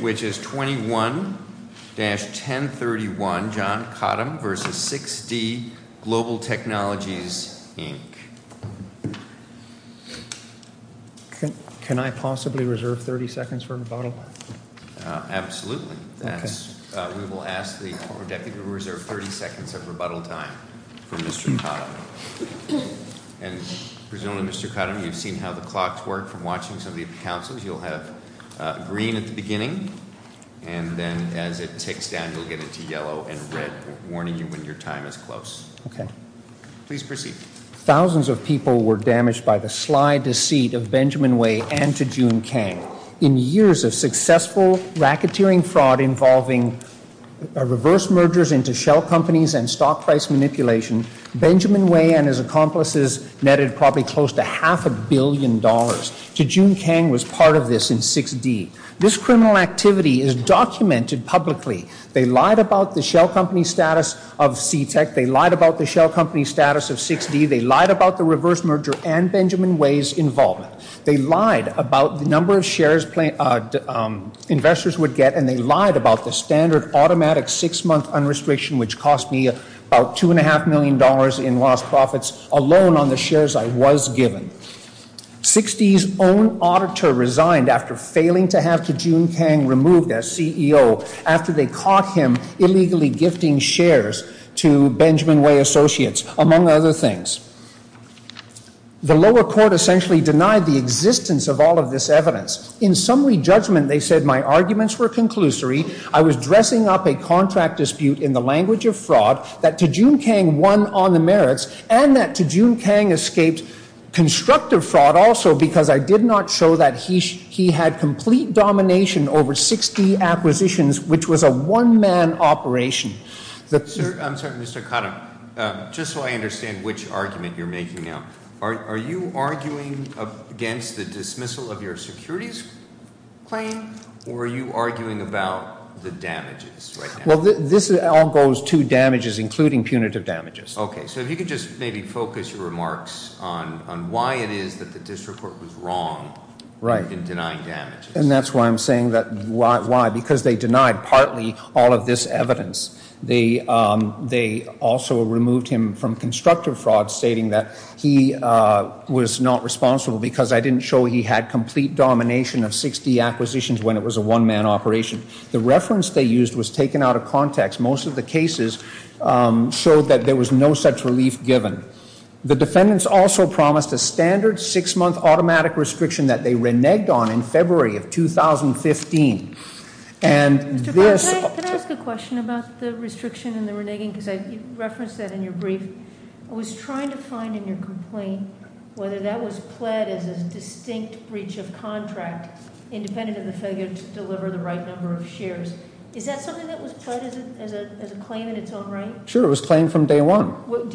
which is 21-1031 John Cottam v. 6D Global Technologies, Inc. Can I possibly reserve 30 seconds for rebuttal? Absolutely. We will ask the Deputy to reserve 30 seconds of rebuttal time for Mr. Cottam. And presumably Mr. Cottam, you've seen how the clocks work from watching some of the councils. You'll have green at the beginning and then as it ticks down you'll get into yellow and red warning you when your time is close. Okay. Please proceed. Thousands of people were damaged by the sly deceit of Benjamin Whey and Tijun Kang. In years of successful racketeering fraud involving reverse mergers into shell companies and stock price manipulation, Benjamin Whey and his accomplices netted probably close to half a billion dollars. Tijun Kang was part of this in 6D. This criminal activity is documented publicly. They lied about the shell company status of CTEK. They lied about the shell company status of 6D. They lied about the reverse merger and Benjamin Whey's involvement. They lied about the number of shares investors would get and they lied about the standard automatic six-month unrestriction which cost me about $2.5 million in lost profits alone on the shares I was given. 6D's own auditor resigned after failing to have Tijun Kang removed as CEO after they caught him illegally gifting shares to Benjamin Whey associates, among other things. The lower court essentially denied the existence of all of this evidence. In summary judgment they said my arguments were conclusory, I was dressing up a contract dispute in the language of fraud, that Tijun Kang won on the merits, and that Tijun Kang escaped constructive fraud also because I did not show that he had complete domination over 6D acquisitions, which was a one-man operation. I'm sorry, Mr. Khattam, just so I understand which argument you're making now. Are you arguing against the dismissal of your securities claim or are you arguing about the damages? Well, this all goes to damages, including punitive damages. Okay, so if you could just maybe focus your remarks on why it is that the district court was wrong in denying damages. And that's why I'm saying that, why, because they denied partly all of this evidence. They also removed him from constructive fraud stating that he was not responsible because I didn't show he had complete domination of 6D acquisitions when it was a one-man operation. The reference they used was taken out of context. Most of the cases showed that there was no such relief given. The defendants also promised a standard six-month automatic restriction that they reneged on in February of 2015. And this- Mr. Khattam, can I ask a question about the restriction and the reneging because I referenced that in your brief. I was trying to find in your complaint whether that was pled as a distinct breach of contract independent of the failure to deliver the right number of shares. Is that something that was pled as a claim in its own right? Sure, it was claimed from day one.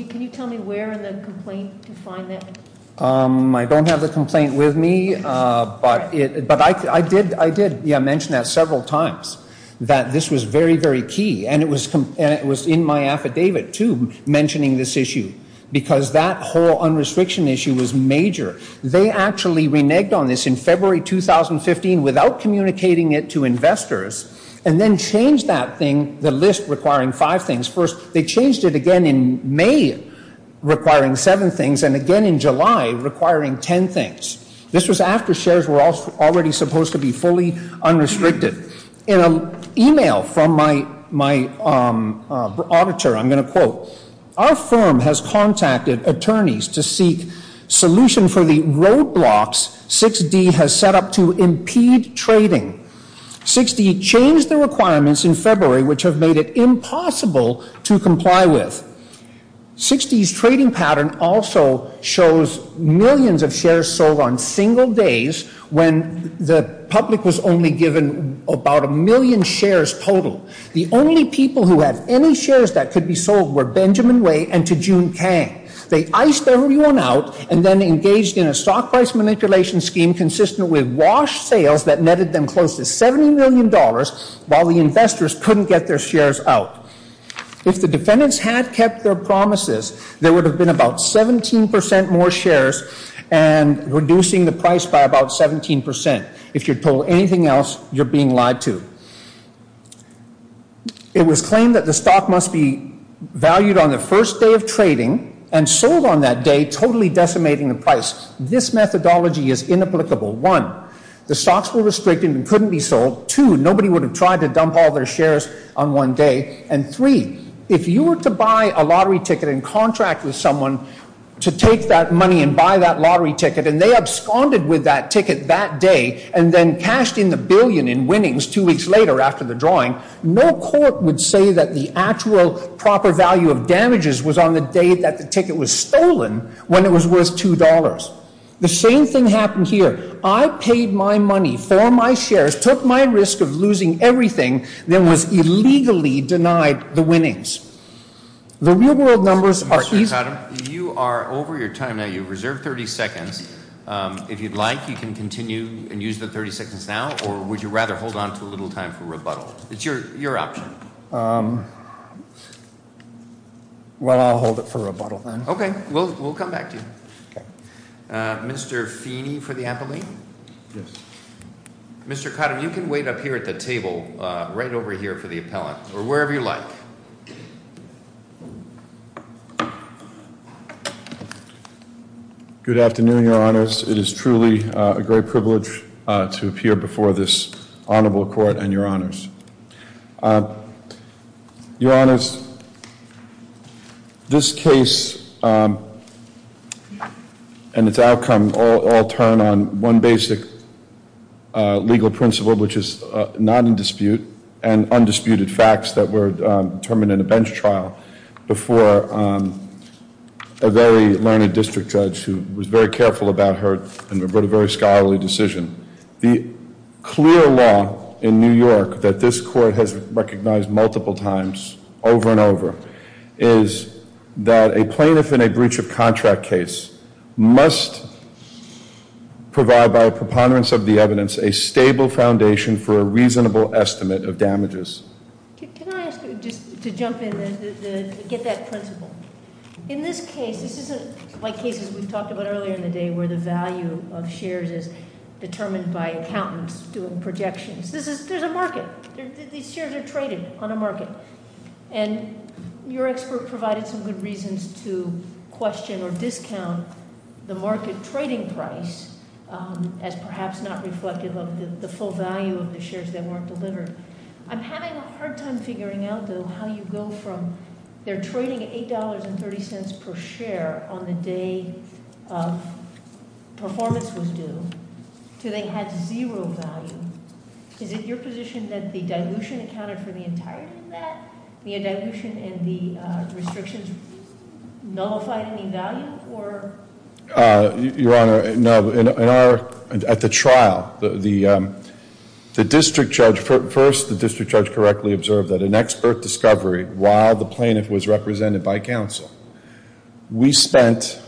Can you tell me where in the complaint to find that? I don't have the complaint with me, but I did mention that several times that this was very, very key. And it was in my affidavit, too, mentioning this issue because that whole unrestriction issue was major. They actually reneged on this in February 2015 without communicating it to investors and then changed that thing, the list requiring five things. First, they changed it again in May requiring seven things and again in July requiring ten things. This was after shares were already supposed to be fully unrestricted. In an email from my auditor, I'm going to quote, our firm has contacted attorneys to seek solution for the roadblocks 6D has set up to impede trading. 6D changed the requirements in February which have made it impossible to comply with. 6D's trading pattern also shows millions of shares sold on single days when the public was only given about a million shares total. The only people who had any shares that could be sold were Benjamin Way and Tijun Kang. They iced everyone out and then engaged in a stock price manipulation scheme consistent with wash sales that netted them close to $70 million while the investors couldn't get their shares out. If the defendants had kept their promises, there would have been about 17% more shares and reducing the price by about 17%. If you're told anything else, you're being lied to. It was claimed that the stock must be valued on the first day of trading and sold on that day totally decimating the price. This methodology is inapplicable. One, the stocks were restricted and couldn't be sold. Two, nobody would have tried to dump all their shares on one day. And three, if you were to buy a lottery ticket and contract with someone to take that money and buy that lottery ticket and they absconded with that ticket that day and then cashed in the billion in winnings two weeks later after the drawing, no court would say that the actual proper value of damages was on the day that the ticket was stolen when it was worth $2. The same thing happened here. I paid my money for my shares, took my risk of losing everything, then was illegally denied the winnings. The real world numbers are... Mr. McAdam, you are over your time now. You reserved 30 seconds. If you'd like, you can continue and use the 30 seconds now, or would you rather hold on to a little time for rebuttal? It's your option. Well, I'll hold it for rebuttal then. Okay, we'll come back to you. Mr. Feeney for the appellate? Yes. Mr. McAdam, you can wait up here at the table right over here for the appellant or wherever you like. Good afternoon, Your Honors. It is truly a great privilege to appear before this honorable court and Your Honors. Your Honors, this case and its outcome all turn on one basic legal principle, which is non-dispute and undisputed facts that were determined in a bench trial before a very learned district judge who was very careful about her and wrote a very scholarly decision. The clear law in New York that this court has recognized multiple times over and over is that a plaintiff in a breach of contract case must provide by a preponderance of the reasonable estimate of damages. Can I ask you just to jump in and get that principle? In this case, this isn't like cases we've talked about earlier in the day where the value of shares is determined by accountants doing projections. There's a market. These shares are traded on a market and your expert provided some good reasons to question or discount the market trading price as perhaps not reflective of the full value of the shares that weren't delivered. I'm having a hard time figuring out, though, how you go from their trading at $8.30 per share on the day of performance was due to they had zero value. Is it your position that the dilution accounted for the entirety of that? The dilution and the restrictions nullified any value or- Your Honor, no. At the trial, the district judge, first the district judge correctly observed that an expert discovery while the plaintiff was represented by counsel. We spent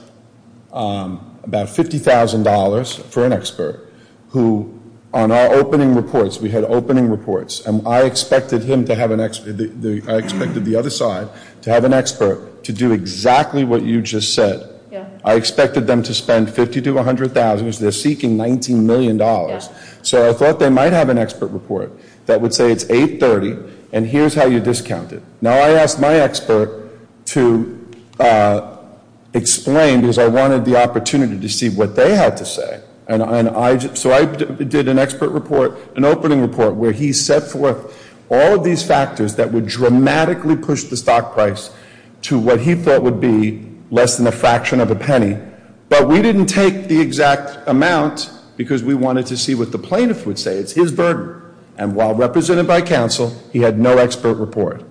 about $50,000 for an expert who on our opening reports, we had opening reports, and I expected him to have an, I expected the other side to have an expert to do exactly what you just said. Yeah. I expected them to spend $50,000 to $100,000. They're seeking $19 million. Yeah. So I thought they might have an expert report that would say it's $8.30 and here's how you discounted. Now I asked my expert to explain because I wanted the opportunity to see what they had to say. So I did an expert report, an opening report, where he set forth all of these factors that would dramatically push the stock price to what he thought would be less than a fraction of a penny, but we didn't take the exact amount because we wanted to see what the plaintiff would say. It's his burden. And while represented by counsel, he had no expert report.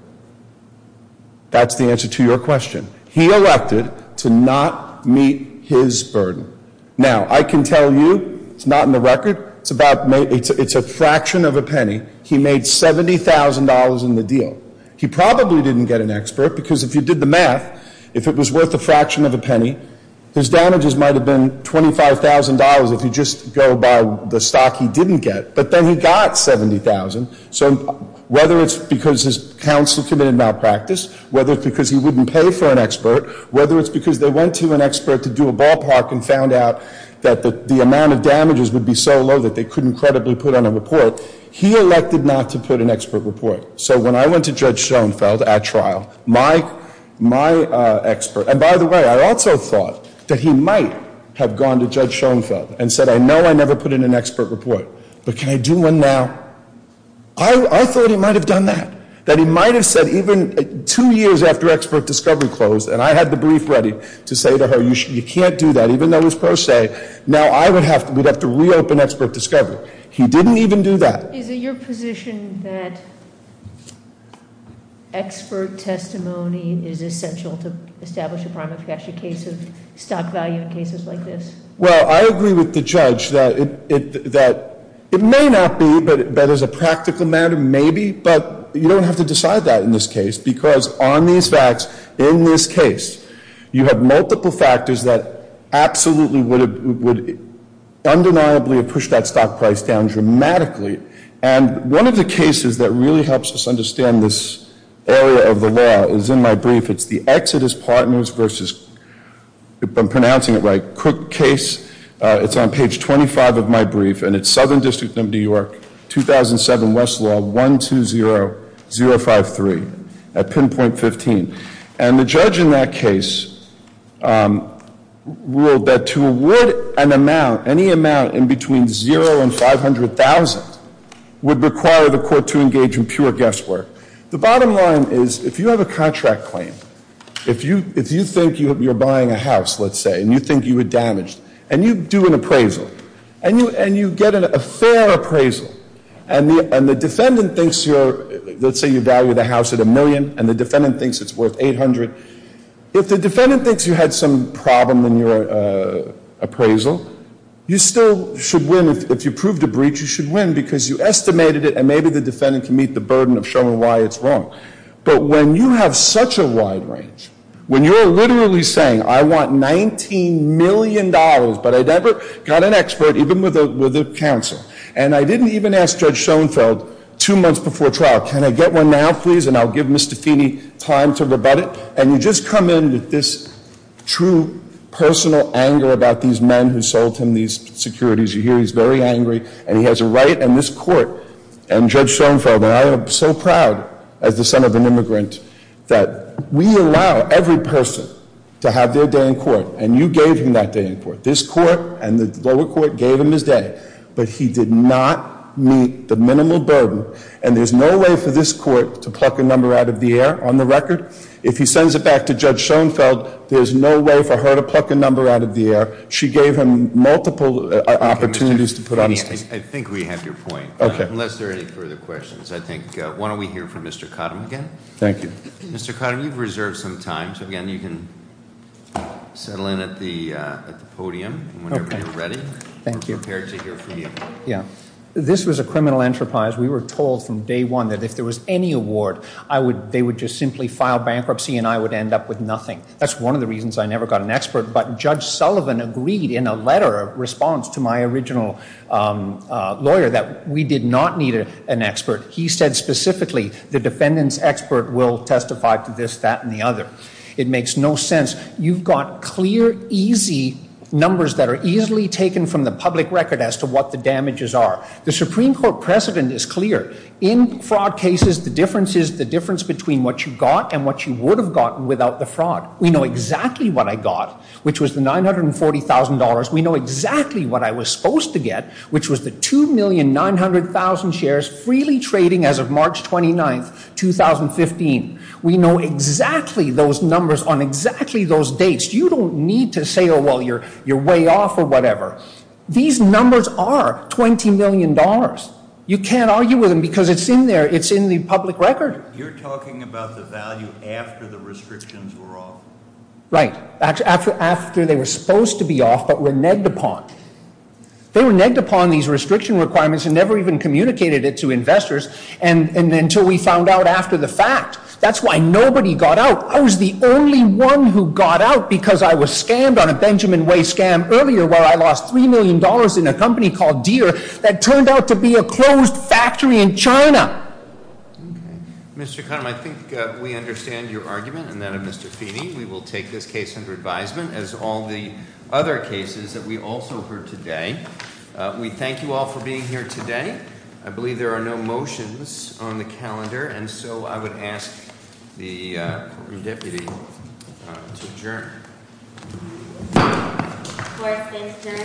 That's the answer to your question. He elected to not meet his burden. Now, I can tell you, it's not in the record, it's about, it's a fraction of a penny. He made $70,000 in the deal. He probably didn't get an expert because if you did the math, if it was worth a fraction of a penny, his damages might have been $25,000 if you just go by the stock he didn't get, but then he got $70,000. So whether it's because his counsel committed malpractice, whether it's because he wouldn't pay for an expert, whether it's because they went to an expert to do a ballpark and found out that the amount of damages would be so low that they couldn't credibly put on a report, he elected not to put an expert report. So when I went to Judge Schoenfeld at trial, my expert, and by the way, I also thought that he might have gone to Judge Schoenfeld and said, I know I never put in an expert report, but can I do one now? I thought he might have done that, that he might have said even two years after expert discovery closed, and I had the brief ready to say to her, you can't do that, even though it was pro se, now I would have to, we'd have to reopen expert discovery. He didn't even do that. Is it your position that expert testimony is essential to establish a primary case of stock value in cases like this? Well, I agree with the judge that it may not be, but as a practical matter, maybe. But you don't have to decide that in this case, because on these facts, in this case, you have multiple factors that absolutely would undeniably have pushed that stock price down dramatically, and one of the cases that really helps us understand this area of the law is in my brief. It's the Exodus Partners versus, if I'm pronouncing it right, Cook case. It's on page 25 of my brief, and it's Southern District of New York, 2007 West Law, 120-053 at pinpoint 15. And the judge in that case ruled that to award an amount, any amount in between 0 and 500,000 would require the court to engage in pure guesswork. The bottom line is, if you have a contract claim, if you think you're buying a house, let's say, and you think you were damaged, and you do an appraisal, and you get a fair appraisal, and the defendant thinks you're, let's say you value the house at a million, and the defendant thinks it's worth 800, if the defendant thinks you had some problem in your appraisal, you still should win. If you proved a breach, you should win, because you estimated it, and maybe the defendant can meet the burden of showing why it's wrong. But when you have such a wide range, when you're literally saying, I want $19 million, but I never got an expert, even with a counsel, and I didn't even ask Judge Schoenfeld two months before trial, can I get one now, please, and I'll give Mr. Feeney time to rebut it, and you just come in with this true personal anger about these men who sold him these securities. You hear he's very angry, and he has a right, and this court, and Judge Schoenfeld, and I am so proud as the son of an immigrant that we allow every person to have their day in court, and you gave him that day in court. This court and the lower court gave him his day, but he did not meet the minimal burden, and there's no way for this court to pluck a number out of the air on the record. If he sends it back to Judge Schoenfeld, there's no way for her to pluck a number out of the air. She gave him multiple opportunities to put on his case. I think we have your point. Okay. Unless there are any further questions, I think, why don't we hear from Mr. Cottom again? Thank you. Mr. Cottom, you've reserved some time, so, again, you can settle in at the podium whenever you're ready. Thank you. We're prepared to hear from you. Yeah. This was a criminal enterprise. We were told from day one that if there was any award, they would just simply file bankruptcy, and I would end up with nothing. That's one of the reasons I never got an expert, but Judge Sullivan agreed in a letter of response to my original lawyer that we did not need an expert. He said specifically the defendant's expert will testify to this, that, and the other. It makes no sense. You've got clear, easy numbers that are easily taken from the public record as to what the damages are. The Supreme Court precedent is clear. In fraud cases, the difference is the difference between what you got and what you would have gotten without the fraud. We know exactly what I got, which was the $940,000. We know exactly what I was supposed to get, which was the 2,900,000 shares freely trading as of March 29, 2015. We know exactly those numbers on exactly those dates. You don't need to say, oh, well, you're way off or whatever. These numbers are $20 million. You can't argue with them because it's in there. It's in the public record. You're talking about the value after the restrictions were off? Right. After they were supposed to be off but were negged upon. They were negged upon these restriction requirements and never even communicated it to investors until we found out after the fact. That's why nobody got out. I was the only one who got out because I was scammed on a Benjamin Way scam earlier where I lost $3 million in a company called Deere that turned out to be a closed factory in China. Mr. Kahnem, I think we understand your argument and that of Mr. Feeney. We will take this case under advisement as all the other cases that we also heard today. We thank you all for being here today. I believe there are no motions on the calendar, and so I would ask the Deputy to adjourn.